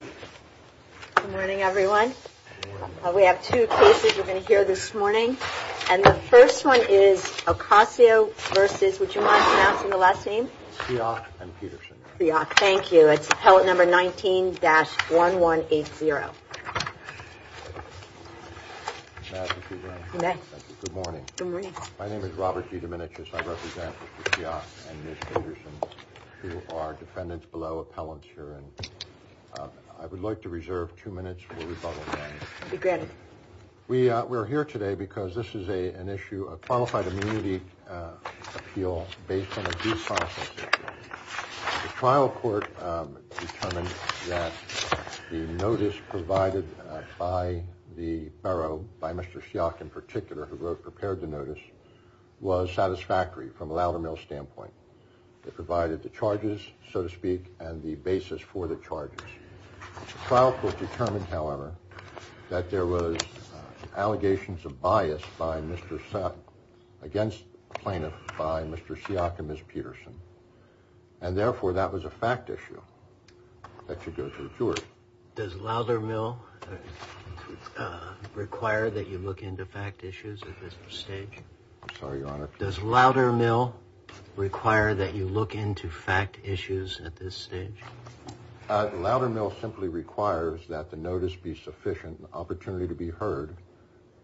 Good morning everyone. We have two cases we're going to hear this morning. And the first one is Ocasio v. would you mind pronouncing the last name? Ciach and Peterson. Ciach, thank you. It's appellate number 19-1180. Good morning. My name is Robert D. Diminitris. I represent Mr. Ciach and Ms. Peterson who are defendants below appellants here. I would like to reserve two minutes for rebuttal. Be granted. We are here today because this is an issue of qualified immunity appeal based on a due process. The trial court determined that the notice provided by the borough, by Mr. Ciach in particular, who prepared the notice was satisfactory from a Loudermill standpoint. It provided the charges, so to speak, and the basis for the charges. The trial court determined, however, that there was allegations of bias by Mr. Ciach, against plaintiffs by Mr. Ciach and Ms. Peterson. And therefore that was a fact issue that should go to the jury. Does Loudermill require that you look into fact issues at this stage? I'm sorry, Your Honor. Does Loudermill require that you look into fact issues at this stage? Loudermill simply requires that the notice be sufficient, an opportunity to be heard,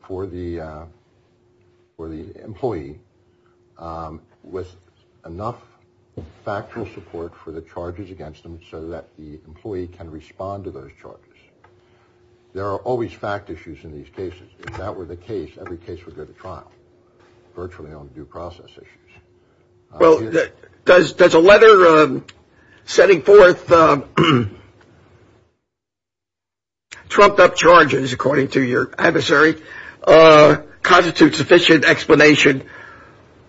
for the employee with enough factual support for the charges against them so that the employee can respond to those charges. There are always fact issues in these cases. If that were the case, every case would go to trial, virtually on due process issues. Well, does a letter setting forth trumped up charges, according to your adversary, constitute sufficient explanation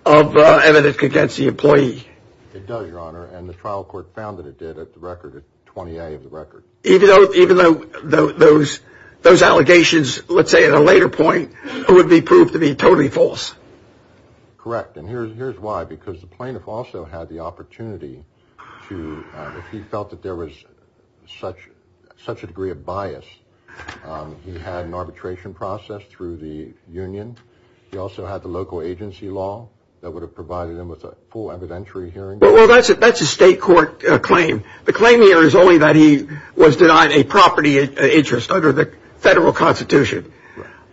of evidence against the employee? It does, Your Honor, and the trial court found that it did at 20A of the record. Even though those allegations, let's say at a later point, would be proved to be totally false? Correct, and here's why. Because the plaintiff also had the opportunity to, if he felt that there was such a degree of bias, he also had the local agency law that would have provided him with a full evidentiary hearing. Well, that's a state court claim. The claim here is only that he was denied a property interest under the federal constitution.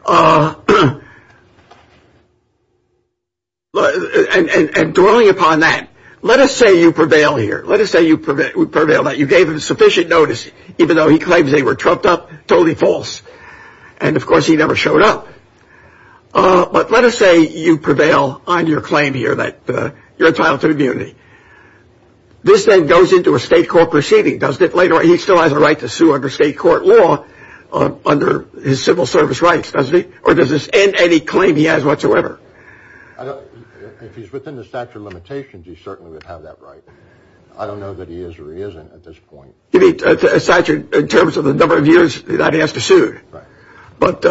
And dwelling upon that, let us say you prevail here. Let us say you prevail that you gave him sufficient notice, even though he claims they were trumped up, totally false. And, of course, he never showed up. But let us say you prevail on your claim here that you're entitled to immunity. This then goes into a state court proceeding, doesn't it? He still has a right to sue under state court law, under his civil service rights, doesn't he? Or does this end any claim he has whatsoever? If he's within the statute of limitations, he certainly would have that right. I don't know that he is or he isn't at this point. In terms of the number of years that he has to sue. But,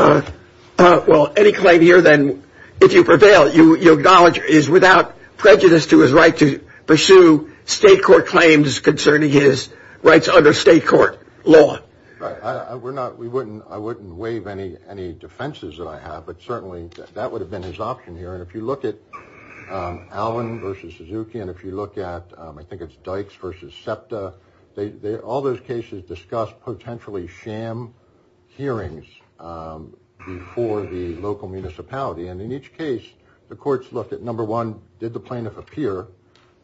well, any claim here then, if you prevail, you acknowledge he is without prejudice to his right to pursue state court claims concerning his rights under state court law. I wouldn't waive any defenses that I have, but certainly that would have been his option here. And if you look at Allen versus Suzuki, and if you look at, I think it's Dykes versus SEPTA, all those cases discuss potentially sham hearings before the local municipality. And in each case, the courts looked at, number one, did the plaintiff appear?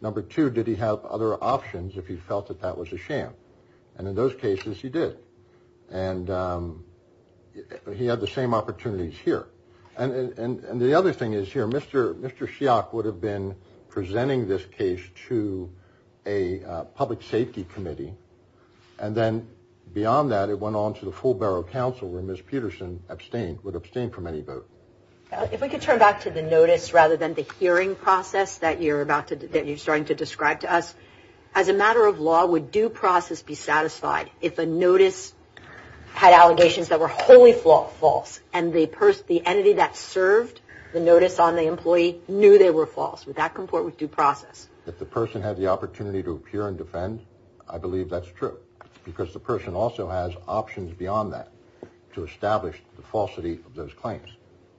Number two, did he have other options if he felt that that was a sham? And in those cases, he did. And he had the same opportunities here. And the other thing is here, Mr. Shiok would have been presenting this case to a public safety committee. And then beyond that, it went on to the full borough council where Ms. Peterson abstained, would abstain from any vote. If we could turn back to the notice rather than the hearing process that you're starting to describe to us. As a matter of law, would due process be satisfied if a notice had allegations that were wholly false and the entity that served the notice on the employee knew they were false? Would that comport with due process? If the person had the opportunity to appear and defend, I believe that's true. Because the person also has options beyond that to establish the falsity of those claims.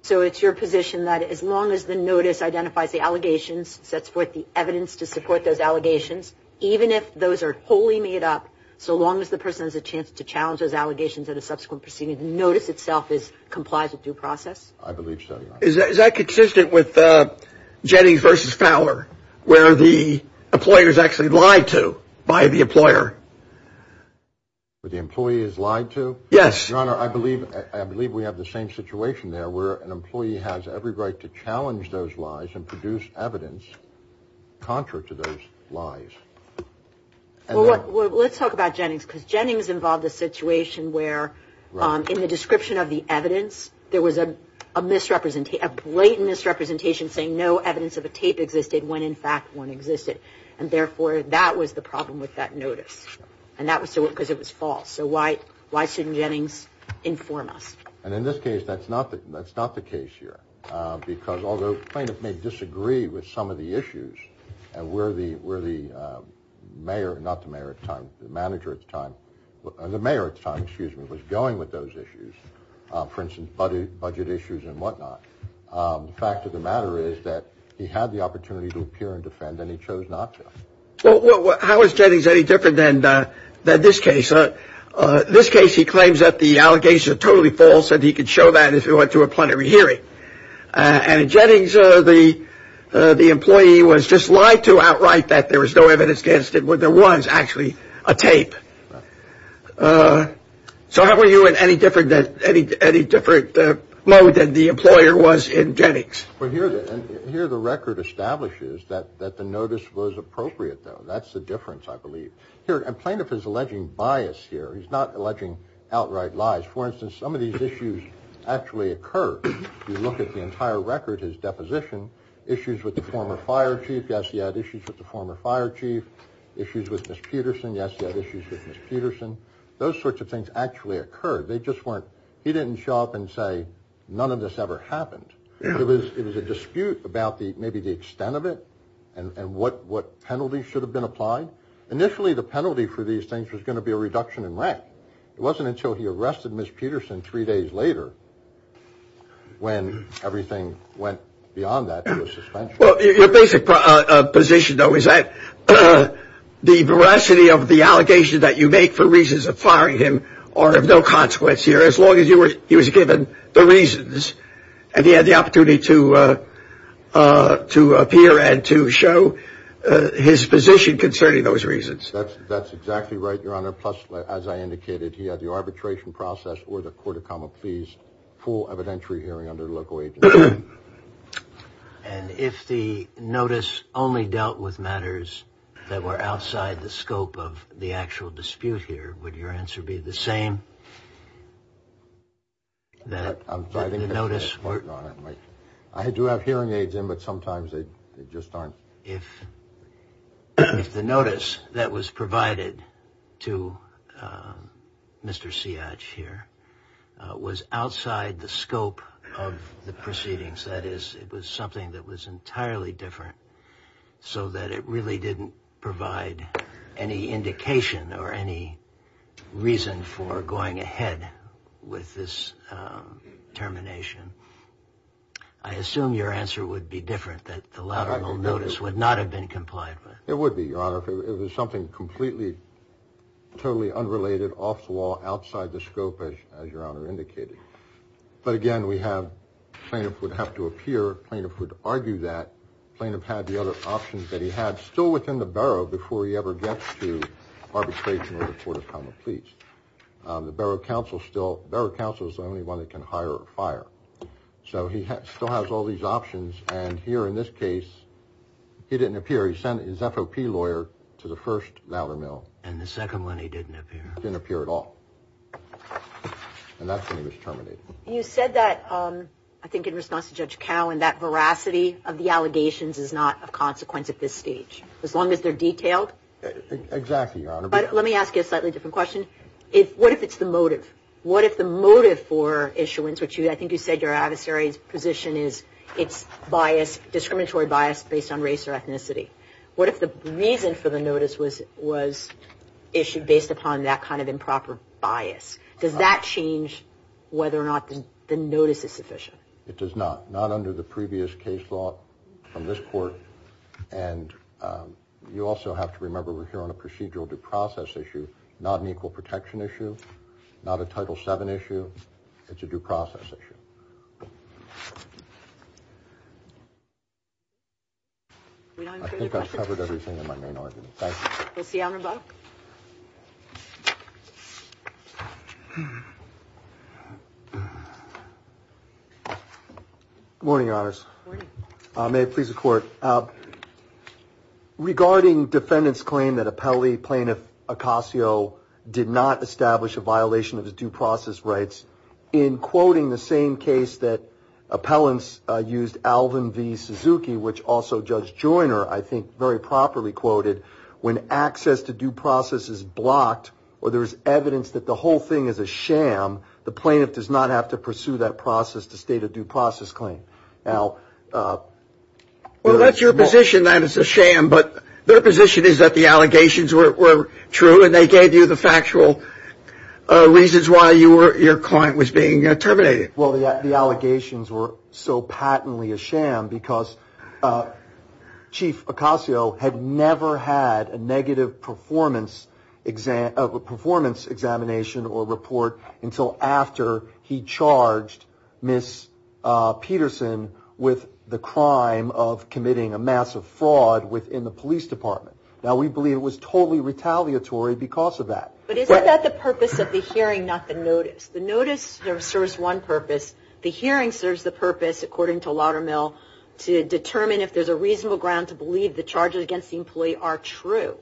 So it's your position that as long as the notice identifies the allegations, sets forth the evidence to support those allegations, even if those are wholly made up, so long as the person has a chance to challenge those allegations at a subsequent proceeding, the notice itself complies with due process? I believe so, Your Honor. Is that consistent with Jennings v. Fowler where the employer is actually lied to by the employer? Where the employee is lied to? Yes. Your Honor, I believe we have the same situation there where an employee has every right to challenge those lies and produce evidence contrary to those lies. Well, let's talk about Jennings because Jennings involved a situation where in the description of the evidence there was a blatant misrepresentation saying no evidence of a tape existed when in fact one existed. And therefore, that was the problem with that notice. And that was because it was false. So why shouldn't Jennings inform us? And in this case, that's not the case here because although plaintiffs may disagree with some of the issues, and where the mayor, not the mayor at the time, the manager at the time, the mayor at the time, excuse me, was going with those issues, for instance, budget issues and whatnot, the fact of the matter is that he had the opportunity to appear and defend and he chose not to. Well, how is Jennings any different than this case? This case he claims that the allegations are totally false and he could show that if he went through a plenary hearing. And in Jennings, the employee was just lied to outright that there was no evidence against it when there was actually a tape. So how are you in any different mode than the employer was in Jennings? Well, here the record establishes that the notice was appropriate, though. That's the difference, I believe. Here, a plaintiff is alleging bias here. He's not alleging outright lies. For instance, some of these issues actually occur. You look at the entire record, his deposition, issues with the former fire chief. Yes, he had issues with the former fire chief. Issues with Ms. Peterson. Yes, he had issues with Ms. Peterson. Those sorts of things actually occurred. They just weren't, he didn't show up and say none of this ever happened. It was a dispute about maybe the extent of it and what penalty should have been applied. Initially, the penalty for these things was going to be a reduction in rent. It wasn't until he arrested Ms. Peterson three days later when everything went beyond that to a suspension. Well, your basic position, though, is that the veracity of the allegations that you make for reasons of firing him are of no consequence here, as long as he was given the reasons and he had the opportunity to appear and to show his position concerning those reasons. That's exactly right, Your Honor. Plus, as I indicated, he had the arbitration process or the court of common pleas, full evidentiary hearing under local agency. And if the notice only dealt with matters that were outside the scope of the actual dispute here, would your answer be the same? I do have hearing aids in, but sometimes they just aren't. If the notice that was provided to Mr. Siadj here was outside the scope of the proceedings, that is, it was something that was entirely different so that it really didn't provide any indication or any reason for going ahead with this termination, I assume your answer would be different, that the lateral notice would not have been complied with. It would be, Your Honor, if it was something completely, totally unrelated, off the wall, outside the scope, as Your Honor indicated. But again, we have plaintiff would have to appear, plaintiff would argue that, plaintiff had the other options that he had still within the Barrow before he ever gets to arbitration or the court of common pleas. The Barrow counsel still, Barrow counsel is the only one that can hire a fire. So he still has all these options. And here in this case, he didn't appear. He sent his FOP lawyer to the first louder mill. And the second one, he didn't appear. Didn't appear at all. And that's when he was terminated. You said that, I think in response to Judge Cowen, that veracity of the allegations is not of consequence at this stage, as long as they're detailed. Exactly, Your Honor. But let me ask you a slightly different question. What if it's the motive? What if the motive for issuance, which I think you said your adversary's position is it's bias, discriminatory bias based on race or ethnicity. What if the reason for the notice was issued based upon that kind of improper bias? Does that change whether or not the notice is sufficient? It does not. Not under the previous case law from this court. And you also have to remember we're here on a procedural due process issue, not an equal protection issue, not a Title VII issue. It's a due process issue. I think I've covered everything in my main argument. Thank you. We'll see you on rebuttal. Good morning, Your Honors. Good morning. May it please the Court. Regarding defendant's claim that appellee plaintiff Acasio did not establish a violation of his due process rights, in quoting the same case that appellants used Alvin V. Suzuki, which also Judge Joyner I think very properly quoted, when access to due process is blocked or there's evidence that the whole thing is a sham, the plaintiff does not have to pursue that process to state a due process claim. Well, that's your position that it's a sham, but their position is that the allegations were true and they gave you the factual reasons why your client was being terminated. Well, the allegations were so patently a sham because Chief Acasio had never had a negative performance examination or report until after he charged Ms. Peterson with the crime of committing a massive fraud within the police department. Now, we believe it was totally retaliatory because of that. But isn't that the purpose of the hearing, not the notice? The notice serves one purpose. The hearing serves the purpose, according to Laudermill, to determine if there's a reasonable ground to believe the charges against the employee are true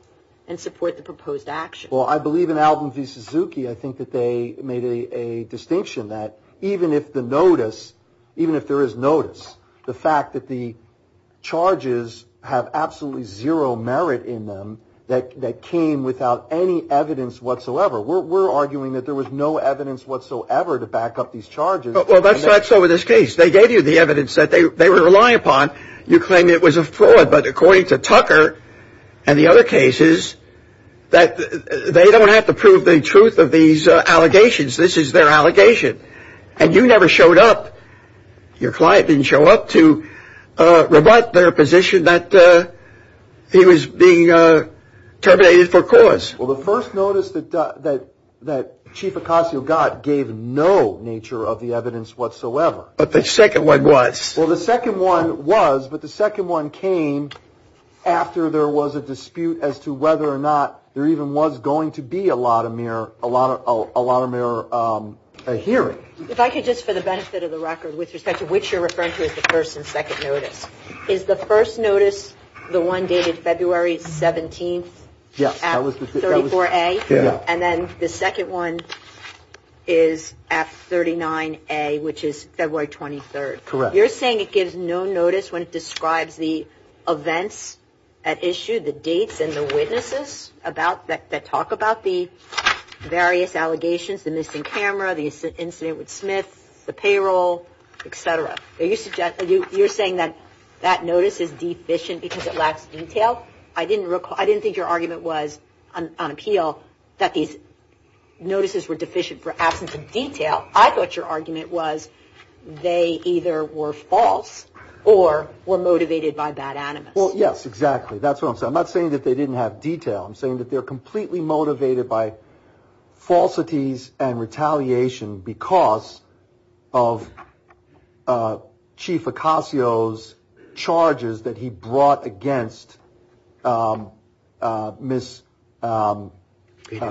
and support the proposed action. Well, I believe in Alvin v. Suzuki, I think that they made a distinction that even if the notice, even if there is notice, the fact that the charges have absolutely zero merit in them that came without any evidence whatsoever. We're arguing that there was no evidence whatsoever to back up these charges. Well, that's not so with this case. They gave you the evidence that they were reliant upon. You claim it was a fraud. But according to Tucker and the other cases, they don't have to prove the truth of these allegations. This is their allegation. And you never showed up. Your client didn't show up to rebut their position that he was being terminated for cause. Well, the first notice that Chief Acasio got gave no nature of the evidence whatsoever. But the second one was. Well, the second one was, but the second one came after there was a dispute as to whether or not there even was going to be a lot of mere hearing. If I could just, for the benefit of the record, with respect to which you're referring to as the first and second notice, is the first notice the one dated February 17th at 34A? Yes. And then the second one is at 39A, which is February 23rd. Correct. You're saying it gives no notice when it describes the events at issue, the dates and the witnesses that talk about the various allegations, the missing camera, the incident with Smith, the payroll, et cetera. You're saying that that notice is deficient because it lacks detail. I didn't think your argument was on appeal that these notices were deficient for absence of detail. I thought your argument was they either were false or were motivated by bad animus. Well, yes, exactly. That's what I'm saying. I'm not saying that they didn't have detail. I'm saying that they're completely motivated by falsities and retaliation because of Chief Acasio's charges that he brought against Miss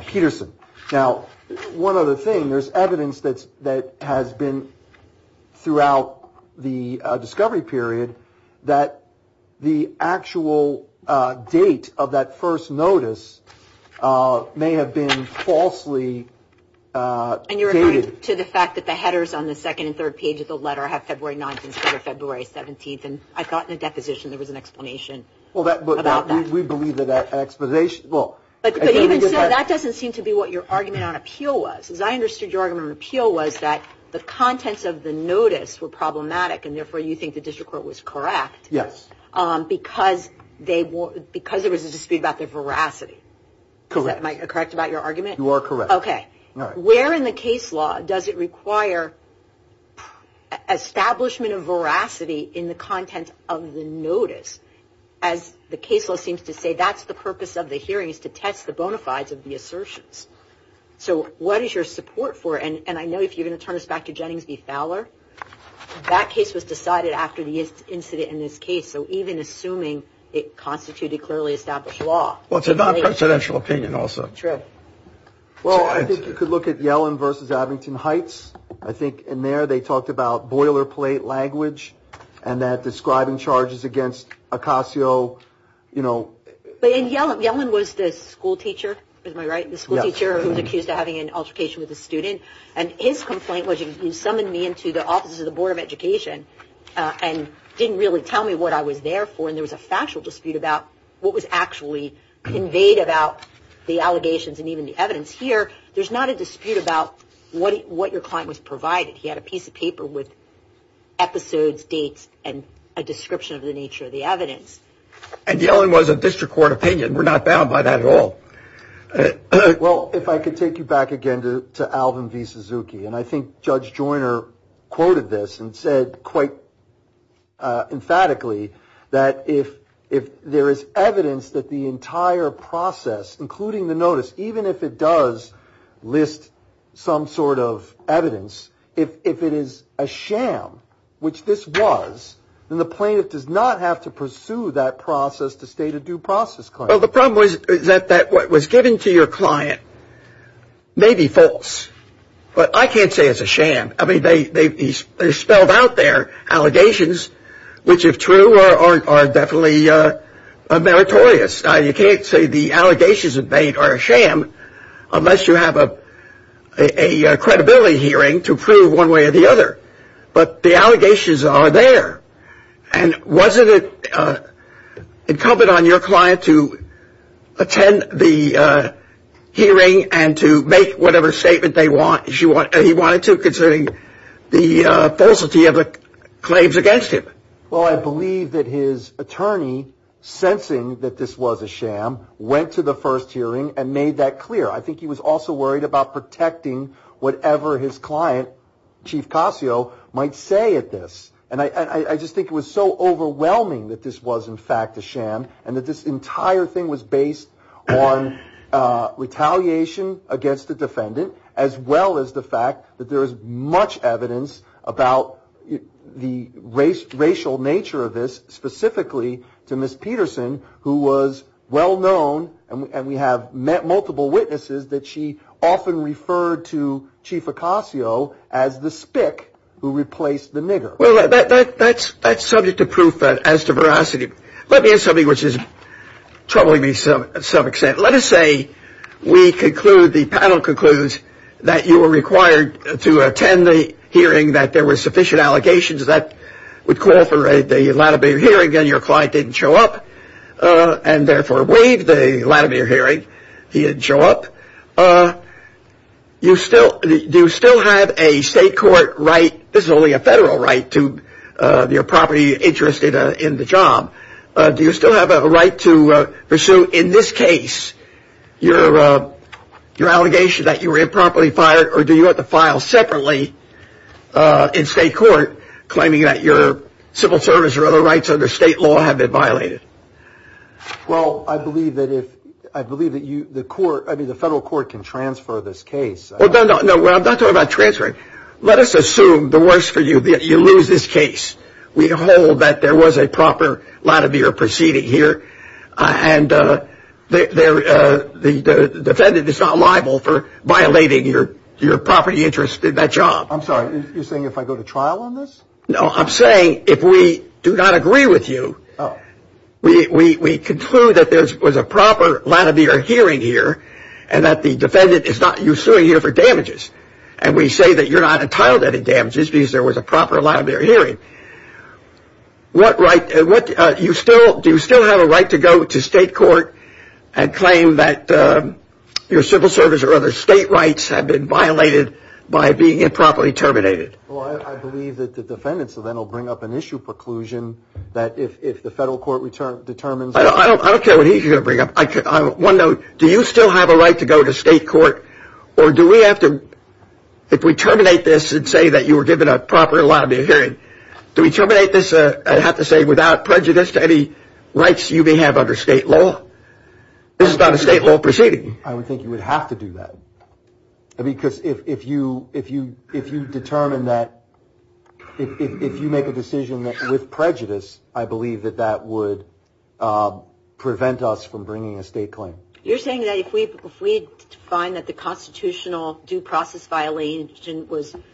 Peterson. Now, one other thing, there's evidence that has been throughout the discovery period that the actual date of that first notice may have been falsely dated. And you're referring to the fact that the headers on the second and third page of the letter have February 9th instead of February 17th. And I thought in the deposition there was an explanation about that. But even so, that doesn't seem to be what your argument on appeal was. As I understood your argument on appeal was that the contents of the notice were problematic and therefore you think the district court was correct because there was a dispute about their veracity. Correct. Am I correct about your argument? You are correct. Okay. Where in the case law does it require establishment of veracity in the content of the notice? As the case law seems to say, that's the purpose of the hearing is to test the bona fides of the assertions. So what is your support for? And I know if you're going to turn us back to Jennings v. Fowler, that case was decided after the incident in this case. So even assuming it constituted clearly established law. Well, it's a non-presidential opinion also. True. Well, I think you could look at Yellen v. Abington Heights. I think in there they talked about boilerplate language and that describing charges against Ocasio, you know. But in Yellen, Yellen was the schoolteacher. Am I right? Yes. The schoolteacher who was accused of having an altercation with a student. And his complaint was you summoned me into the offices of the Board of Education and didn't really tell me what I was there for. And there was a factual dispute about what was actually conveyed about the allegations and even the evidence. Here, there's not a dispute about what your client was provided. He had a piece of paper with episodes, dates, and a description of the nature of the evidence. And Yellen was a district court opinion. We're not bound by that at all. Well, if I could take you back again to Alvin v. Suzuki. And I think Judge Joyner quoted this and said quite emphatically that if there is evidence that the entire process, including the notice, even if it does list some sort of evidence, if it is a sham, which this was, then the plaintiff does not have to pursue that process to state a due process claim. Well, the problem was that what was given to your client may be false. But I can't say it's a sham. I mean, they spelled out their allegations, which, if true, are definitely meritorious. You can't say the allegations are a sham unless you have a credibility hearing to prove one way or the other. But the allegations are there. And wasn't it incumbent on your client to attend the hearing and to make whatever statement they wanted to considering the falsity of the claims against him? Well, I believe that his attorney, sensing that this was a sham, went to the first hearing and made that clear. I think he was also worried about protecting whatever his client, Chief Cascio, might say at this. And I just think it was so overwhelming that this was, in fact, a sham, and that this entire thing was based on retaliation against the defendant, as well as the fact that there is much evidence about the racial nature of this, specifically to Ms. Peterson, who was well-known, and we have met multiple witnesses, that she often referred to Chief Cascio as the spick who replaced the nigger. Well, that's subject to proof as to veracity. Let me add something which is troubling me to some extent. Let us say we conclude, the panel concludes, that you were required to attend the hearing, that there were sufficient allegations that would corroborate the Latimer hearing, and your client didn't show up and therefore waived the Latimer hearing. He didn't show up. Do you still have a state court right? This is only a federal right to your property interest in the job. Do you still have a right to pursue, in this case, your allegation that you were improperly fired, or do you have to file separately in state court, claiming that your civil service or other rights under state law have been violated? Well, I believe that the federal court can transfer this case. No, I'm not talking about transferring. Let us assume, the worst for you, that you lose this case. We hold that there was a proper Latimer proceeding here, and the defendant is not liable for violating your property interest in that job. I'm sorry, you're saying if I go to trial on this? No, I'm saying if we do not agree with you, we conclude that there was a proper Latimer hearing here, and that the defendant is not used to being here for damages. And we say that you're not entitled to any damages because there was a proper Latimer hearing. Do you still have a right to go to state court and claim that your civil service or other state rights have been violated by being improperly terminated? Well, I believe that the defendant will then bring up an issue preclusion that if the federal court determines... I don't care what he's going to bring up. One note, do you still have a right to go to state court, or do we have to, if we terminate this and say that you were given a proper Latimer hearing, do we terminate this and have to say without prejudice to any rights you may have under state law? This is not a state law proceeding. I would think you would have to do that. Because if you determine that, if you make a decision with prejudice, I believe that that would prevent us from bringing a state claim. You're saying that if we find that the constitutional due process violation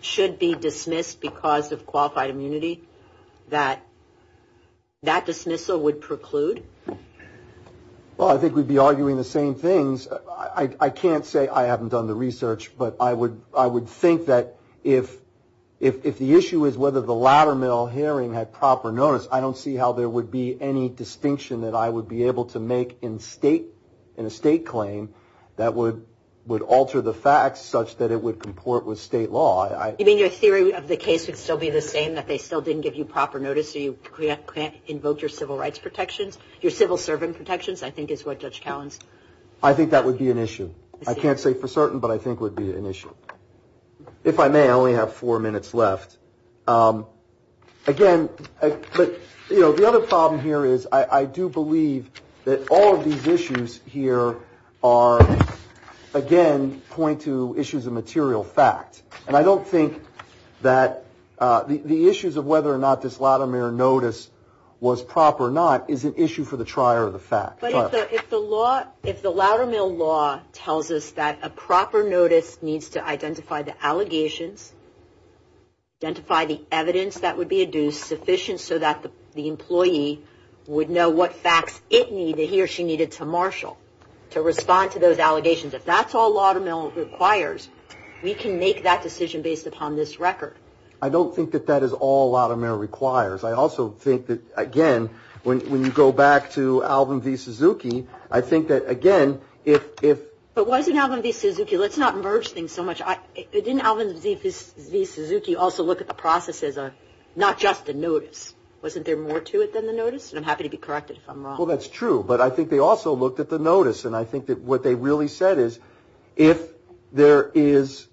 should be dismissed because of qualified immunity, that that dismissal would preclude? Well, I think we'd be arguing the same things. I can't say I haven't done the research, but I would think that if the issue is whether the Latimer hearing had proper notice, I don't see how there would be any distinction that I would be able to make in a state claim that would alter the facts such that it would comport with state law. You mean your theory of the case would still be the same, that they still didn't give you proper notice, so you can't invoke your civil rights protections? Your civil servant protections, I think, is what Judge Cowen's... I think that would be an issue. I can't say for certain, but I think it would be an issue. If I may, I only have four minutes left. Again, the other problem here is I do believe that all of these issues here are, again, point to issues of material fact, and I don't think that the issues of whether or not this Latimer notice was proper or not is an issue for the trier of the fact. But if the Latimer law tells us that a proper notice needs to identify the allegations, identify the evidence that would be adduced sufficient so that the employee would know what facts it needed, he or she needed to marshal, to respond to those allegations, if that's all Latimer requires, we can make that decision based upon this record. I don't think that that is all Latimer requires. I also think that, again, when you go back to Alvin v. Suzuki, I think that, again, if... But wasn't Alvin v. Suzuki... Let's not merge things so much. Didn't Alvin v. Suzuki also look at the process as not just a notice? Wasn't there more to it than the notice? And I'm happy to be corrected if I'm wrong. Well, that's true. But I think they also looked at the notice, and I think that what they really said is if there is...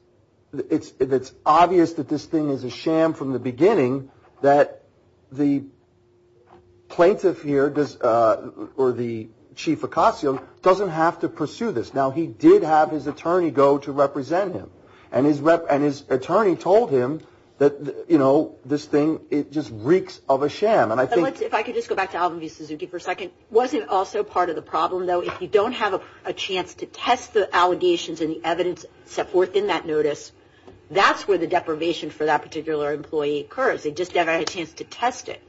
if it's obvious that this thing is a sham from the beginning, that the plaintiff here does... or the Chief Acasio doesn't have to pursue this. Now, he did have his attorney go to represent him, and his attorney told him that, you know, this thing, it just reeks of a sham. And I think... If I could just go back to Alvin v. Suzuki for a second. It wasn't also part of the problem, though. If you don't have a chance to test the allegations and the evidence set forth in that notice, that's where the deprivation for that particular employee occurs. They just never had a chance to test it.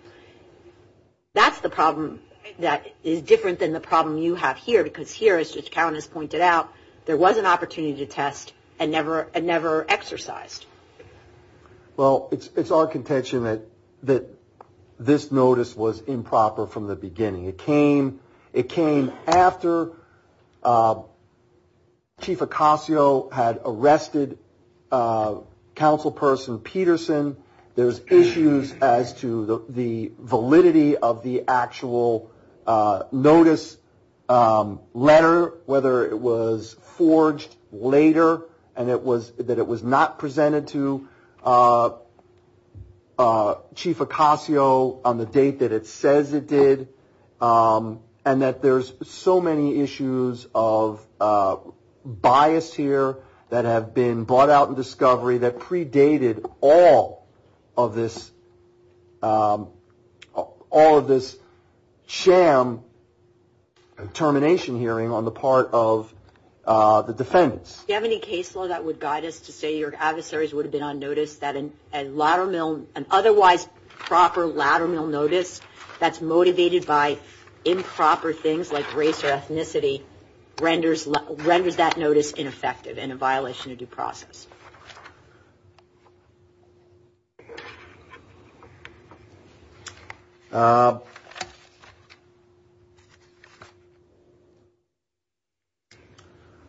That's the problem that is different than the problem you have here, because here, as Judge Cowen has pointed out, there was an opportunity to test and never exercised. Well, it's our contention that this notice was improper from the beginning. It came after Chief Acasio had arrested Councilperson Peterson. There's issues as to the validity of the actual notice letter, whether it was forged later and that it was not presented to Chief Acasio on the date that it says it did, and that there's so many issues of bias here that have been brought out in discovery that predated all of this sham termination hearing on the part of the defendants. Do you have any case law that would guide us to say your adversaries would have been on notice that an otherwise proper lateral notice that's motivated by improper things like race or ethnicity renders that notice ineffective and a violation of due process?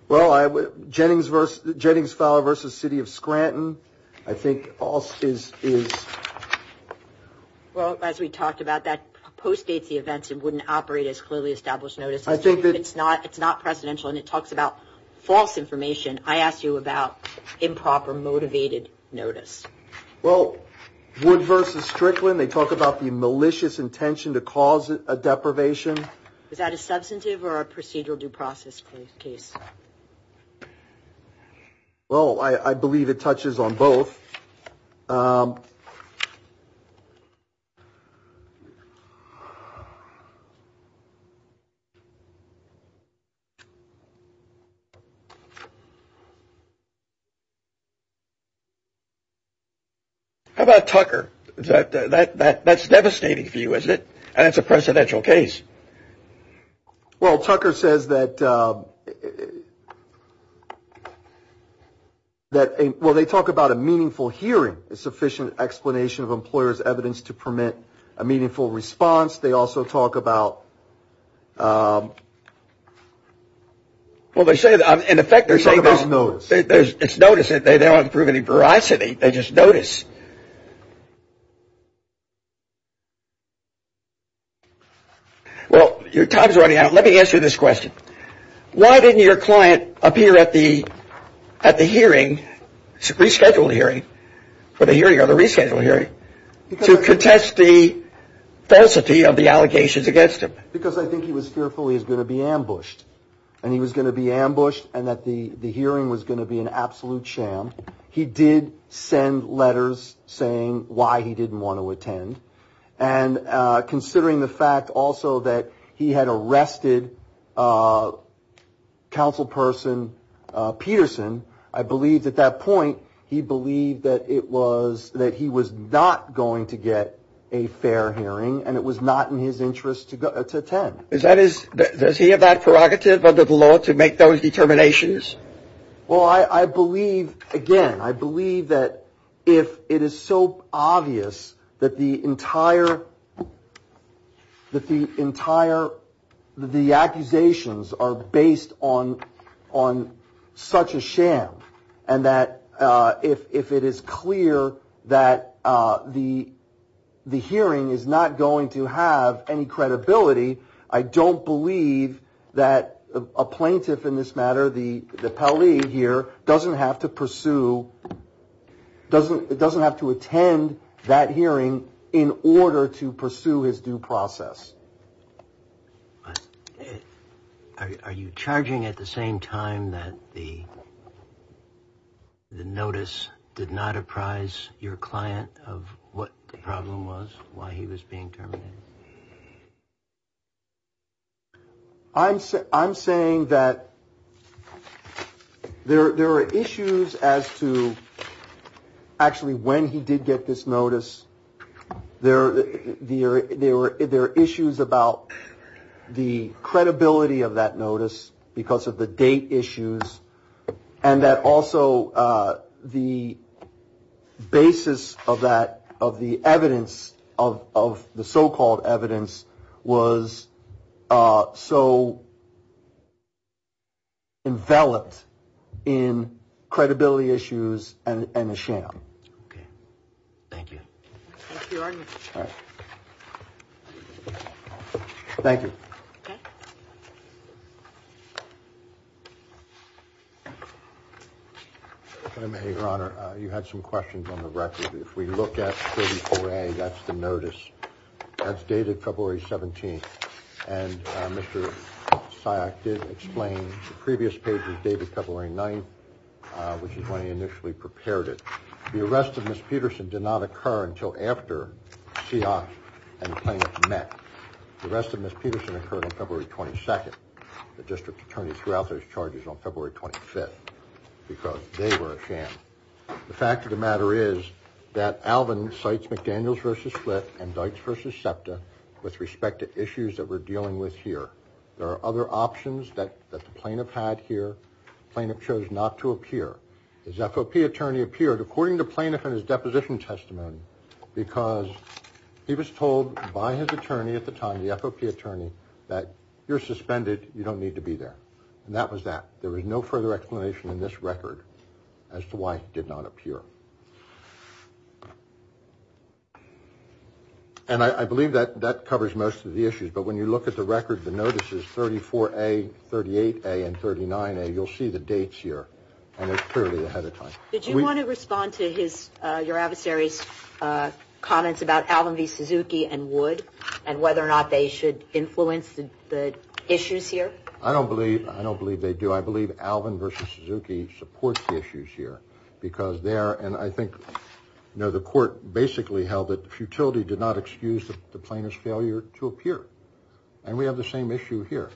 Well, Jennings Fowler v. City of Scranton, I think, is... Well, as we talked about, that postdates the events and wouldn't operate as clearly established notice. I think it's not presidential, and it talks about false information. I asked you about improper notice. Well, Wood v. Strickland, they talk about the malicious intention to cause a deprivation. Is that a substantive or a procedural due process case? Well, I believe it touches on both. How about Tucker? That's devastating for you, isn't it? And it's a presidential case. Well, Tucker says that... Well, they talk about a meaningful hearing, a sufficient explanation of employer's evidence to permit a meaningful response. They also talk about... Well, they say that... In effect, they're saying there's notice. It's notice. They don't want to prove any veracity. They just notice. Well, your time's running out. Let me ask you this question. Why didn't your client appear at the hearing, rescheduled hearing, for the hearing or the rescheduled hearing, to contest the falsity of the allegations against him? Because I think he was fearful he was going to be ambushed, and he was going to be ambushed, and that the hearing was going to be an absolute sham. He did send letters saying why he didn't want to attend. And considering the fact also that he had arrested councilperson Peterson, I believe at that point he believed that he was not going to get a fair hearing, and it was not in his interest to attend. Does he have that prerogative under the law to make those determinations? Well, I believe, again, I believe that if it is so obvious that the entire accusations are based on such a sham, and that if it is clear that the hearing is not going to have any credibility, I don't believe that a plaintiff in this matter, the Pelley here, doesn't have to pursue, doesn't have to attend that hearing in order to pursue his due process. Are you charging at the same time that the notice did not apprise your client of what the problem was, why he was being terminated? I'm saying that there are issues as to actually when he did get this notice. There are issues about the credibility of that notice because of the date issues, and that also the basis of that, of the evidence, of the so-called evidence, was so enveloped in credibility issues and a sham. Okay. Thank you. Thank you, Your Honor. All right. Thank you. Okay. Your Honor, you had some questions on the record. If we look at 34A, that's the notice. That's dated February 17th, and Mr. Syok did explain the previous page was dated February 9th, which is when he initially prepared it. The arrest of Ms. Peterson did not occur until after Syok and the plaintiff met. The arrest of Ms. Peterson occurred on February 22nd. The district attorney threw out those charges on February 25th because they were a sham. The fact of the matter is that Alvin cites McDaniels v. Split and Dykes v. SEPTA with respect to issues that we're dealing with here. There are other options that the plaintiff had here. The plaintiff chose not to appear. His FOP attorney appeared according to the plaintiff in his deposition testimony because he was told by his attorney at the time, the FOP attorney, that you're suspended. You don't need to be there. And that was that. There was no further explanation in this record as to why he did not appear. And I believe that that covers most of the issues. But when you look at the record, the notices, 34A, 38A, and 39A, you'll see the dates here, and they're clearly ahead of time. Did you want to respond to your adversary's comments about Alvin v. Suzuki and Wood and whether or not they should influence the issues here? I don't believe they do. I believe Alvin v. Suzuki supports the issues here and I think the court basically held that futility did not excuse the plaintiff's failure to appear. And we have the same issue here.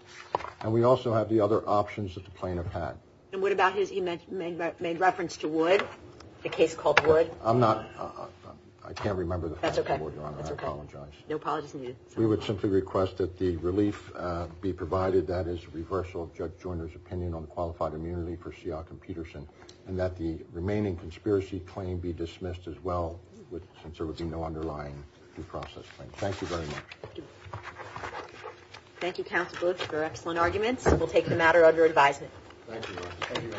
And we also have the other options that the plaintiff had. And what about his, he made reference to Wood, the case called Wood. I'm not, I can't remember the fact. That's okay. I apologize. No apologies needed. We would simply request that the relief be provided, that is reversal of Judge Joyner's opinion on qualified immunity for Sealk and Peterson and that the remaining conspiracy claim be dismissed as well since there would be no underlying due process claim. Thank you very much. Thank you. Thank you, Counsel Bluth, for excellent arguments. We'll take the matter under advisement. Thank you.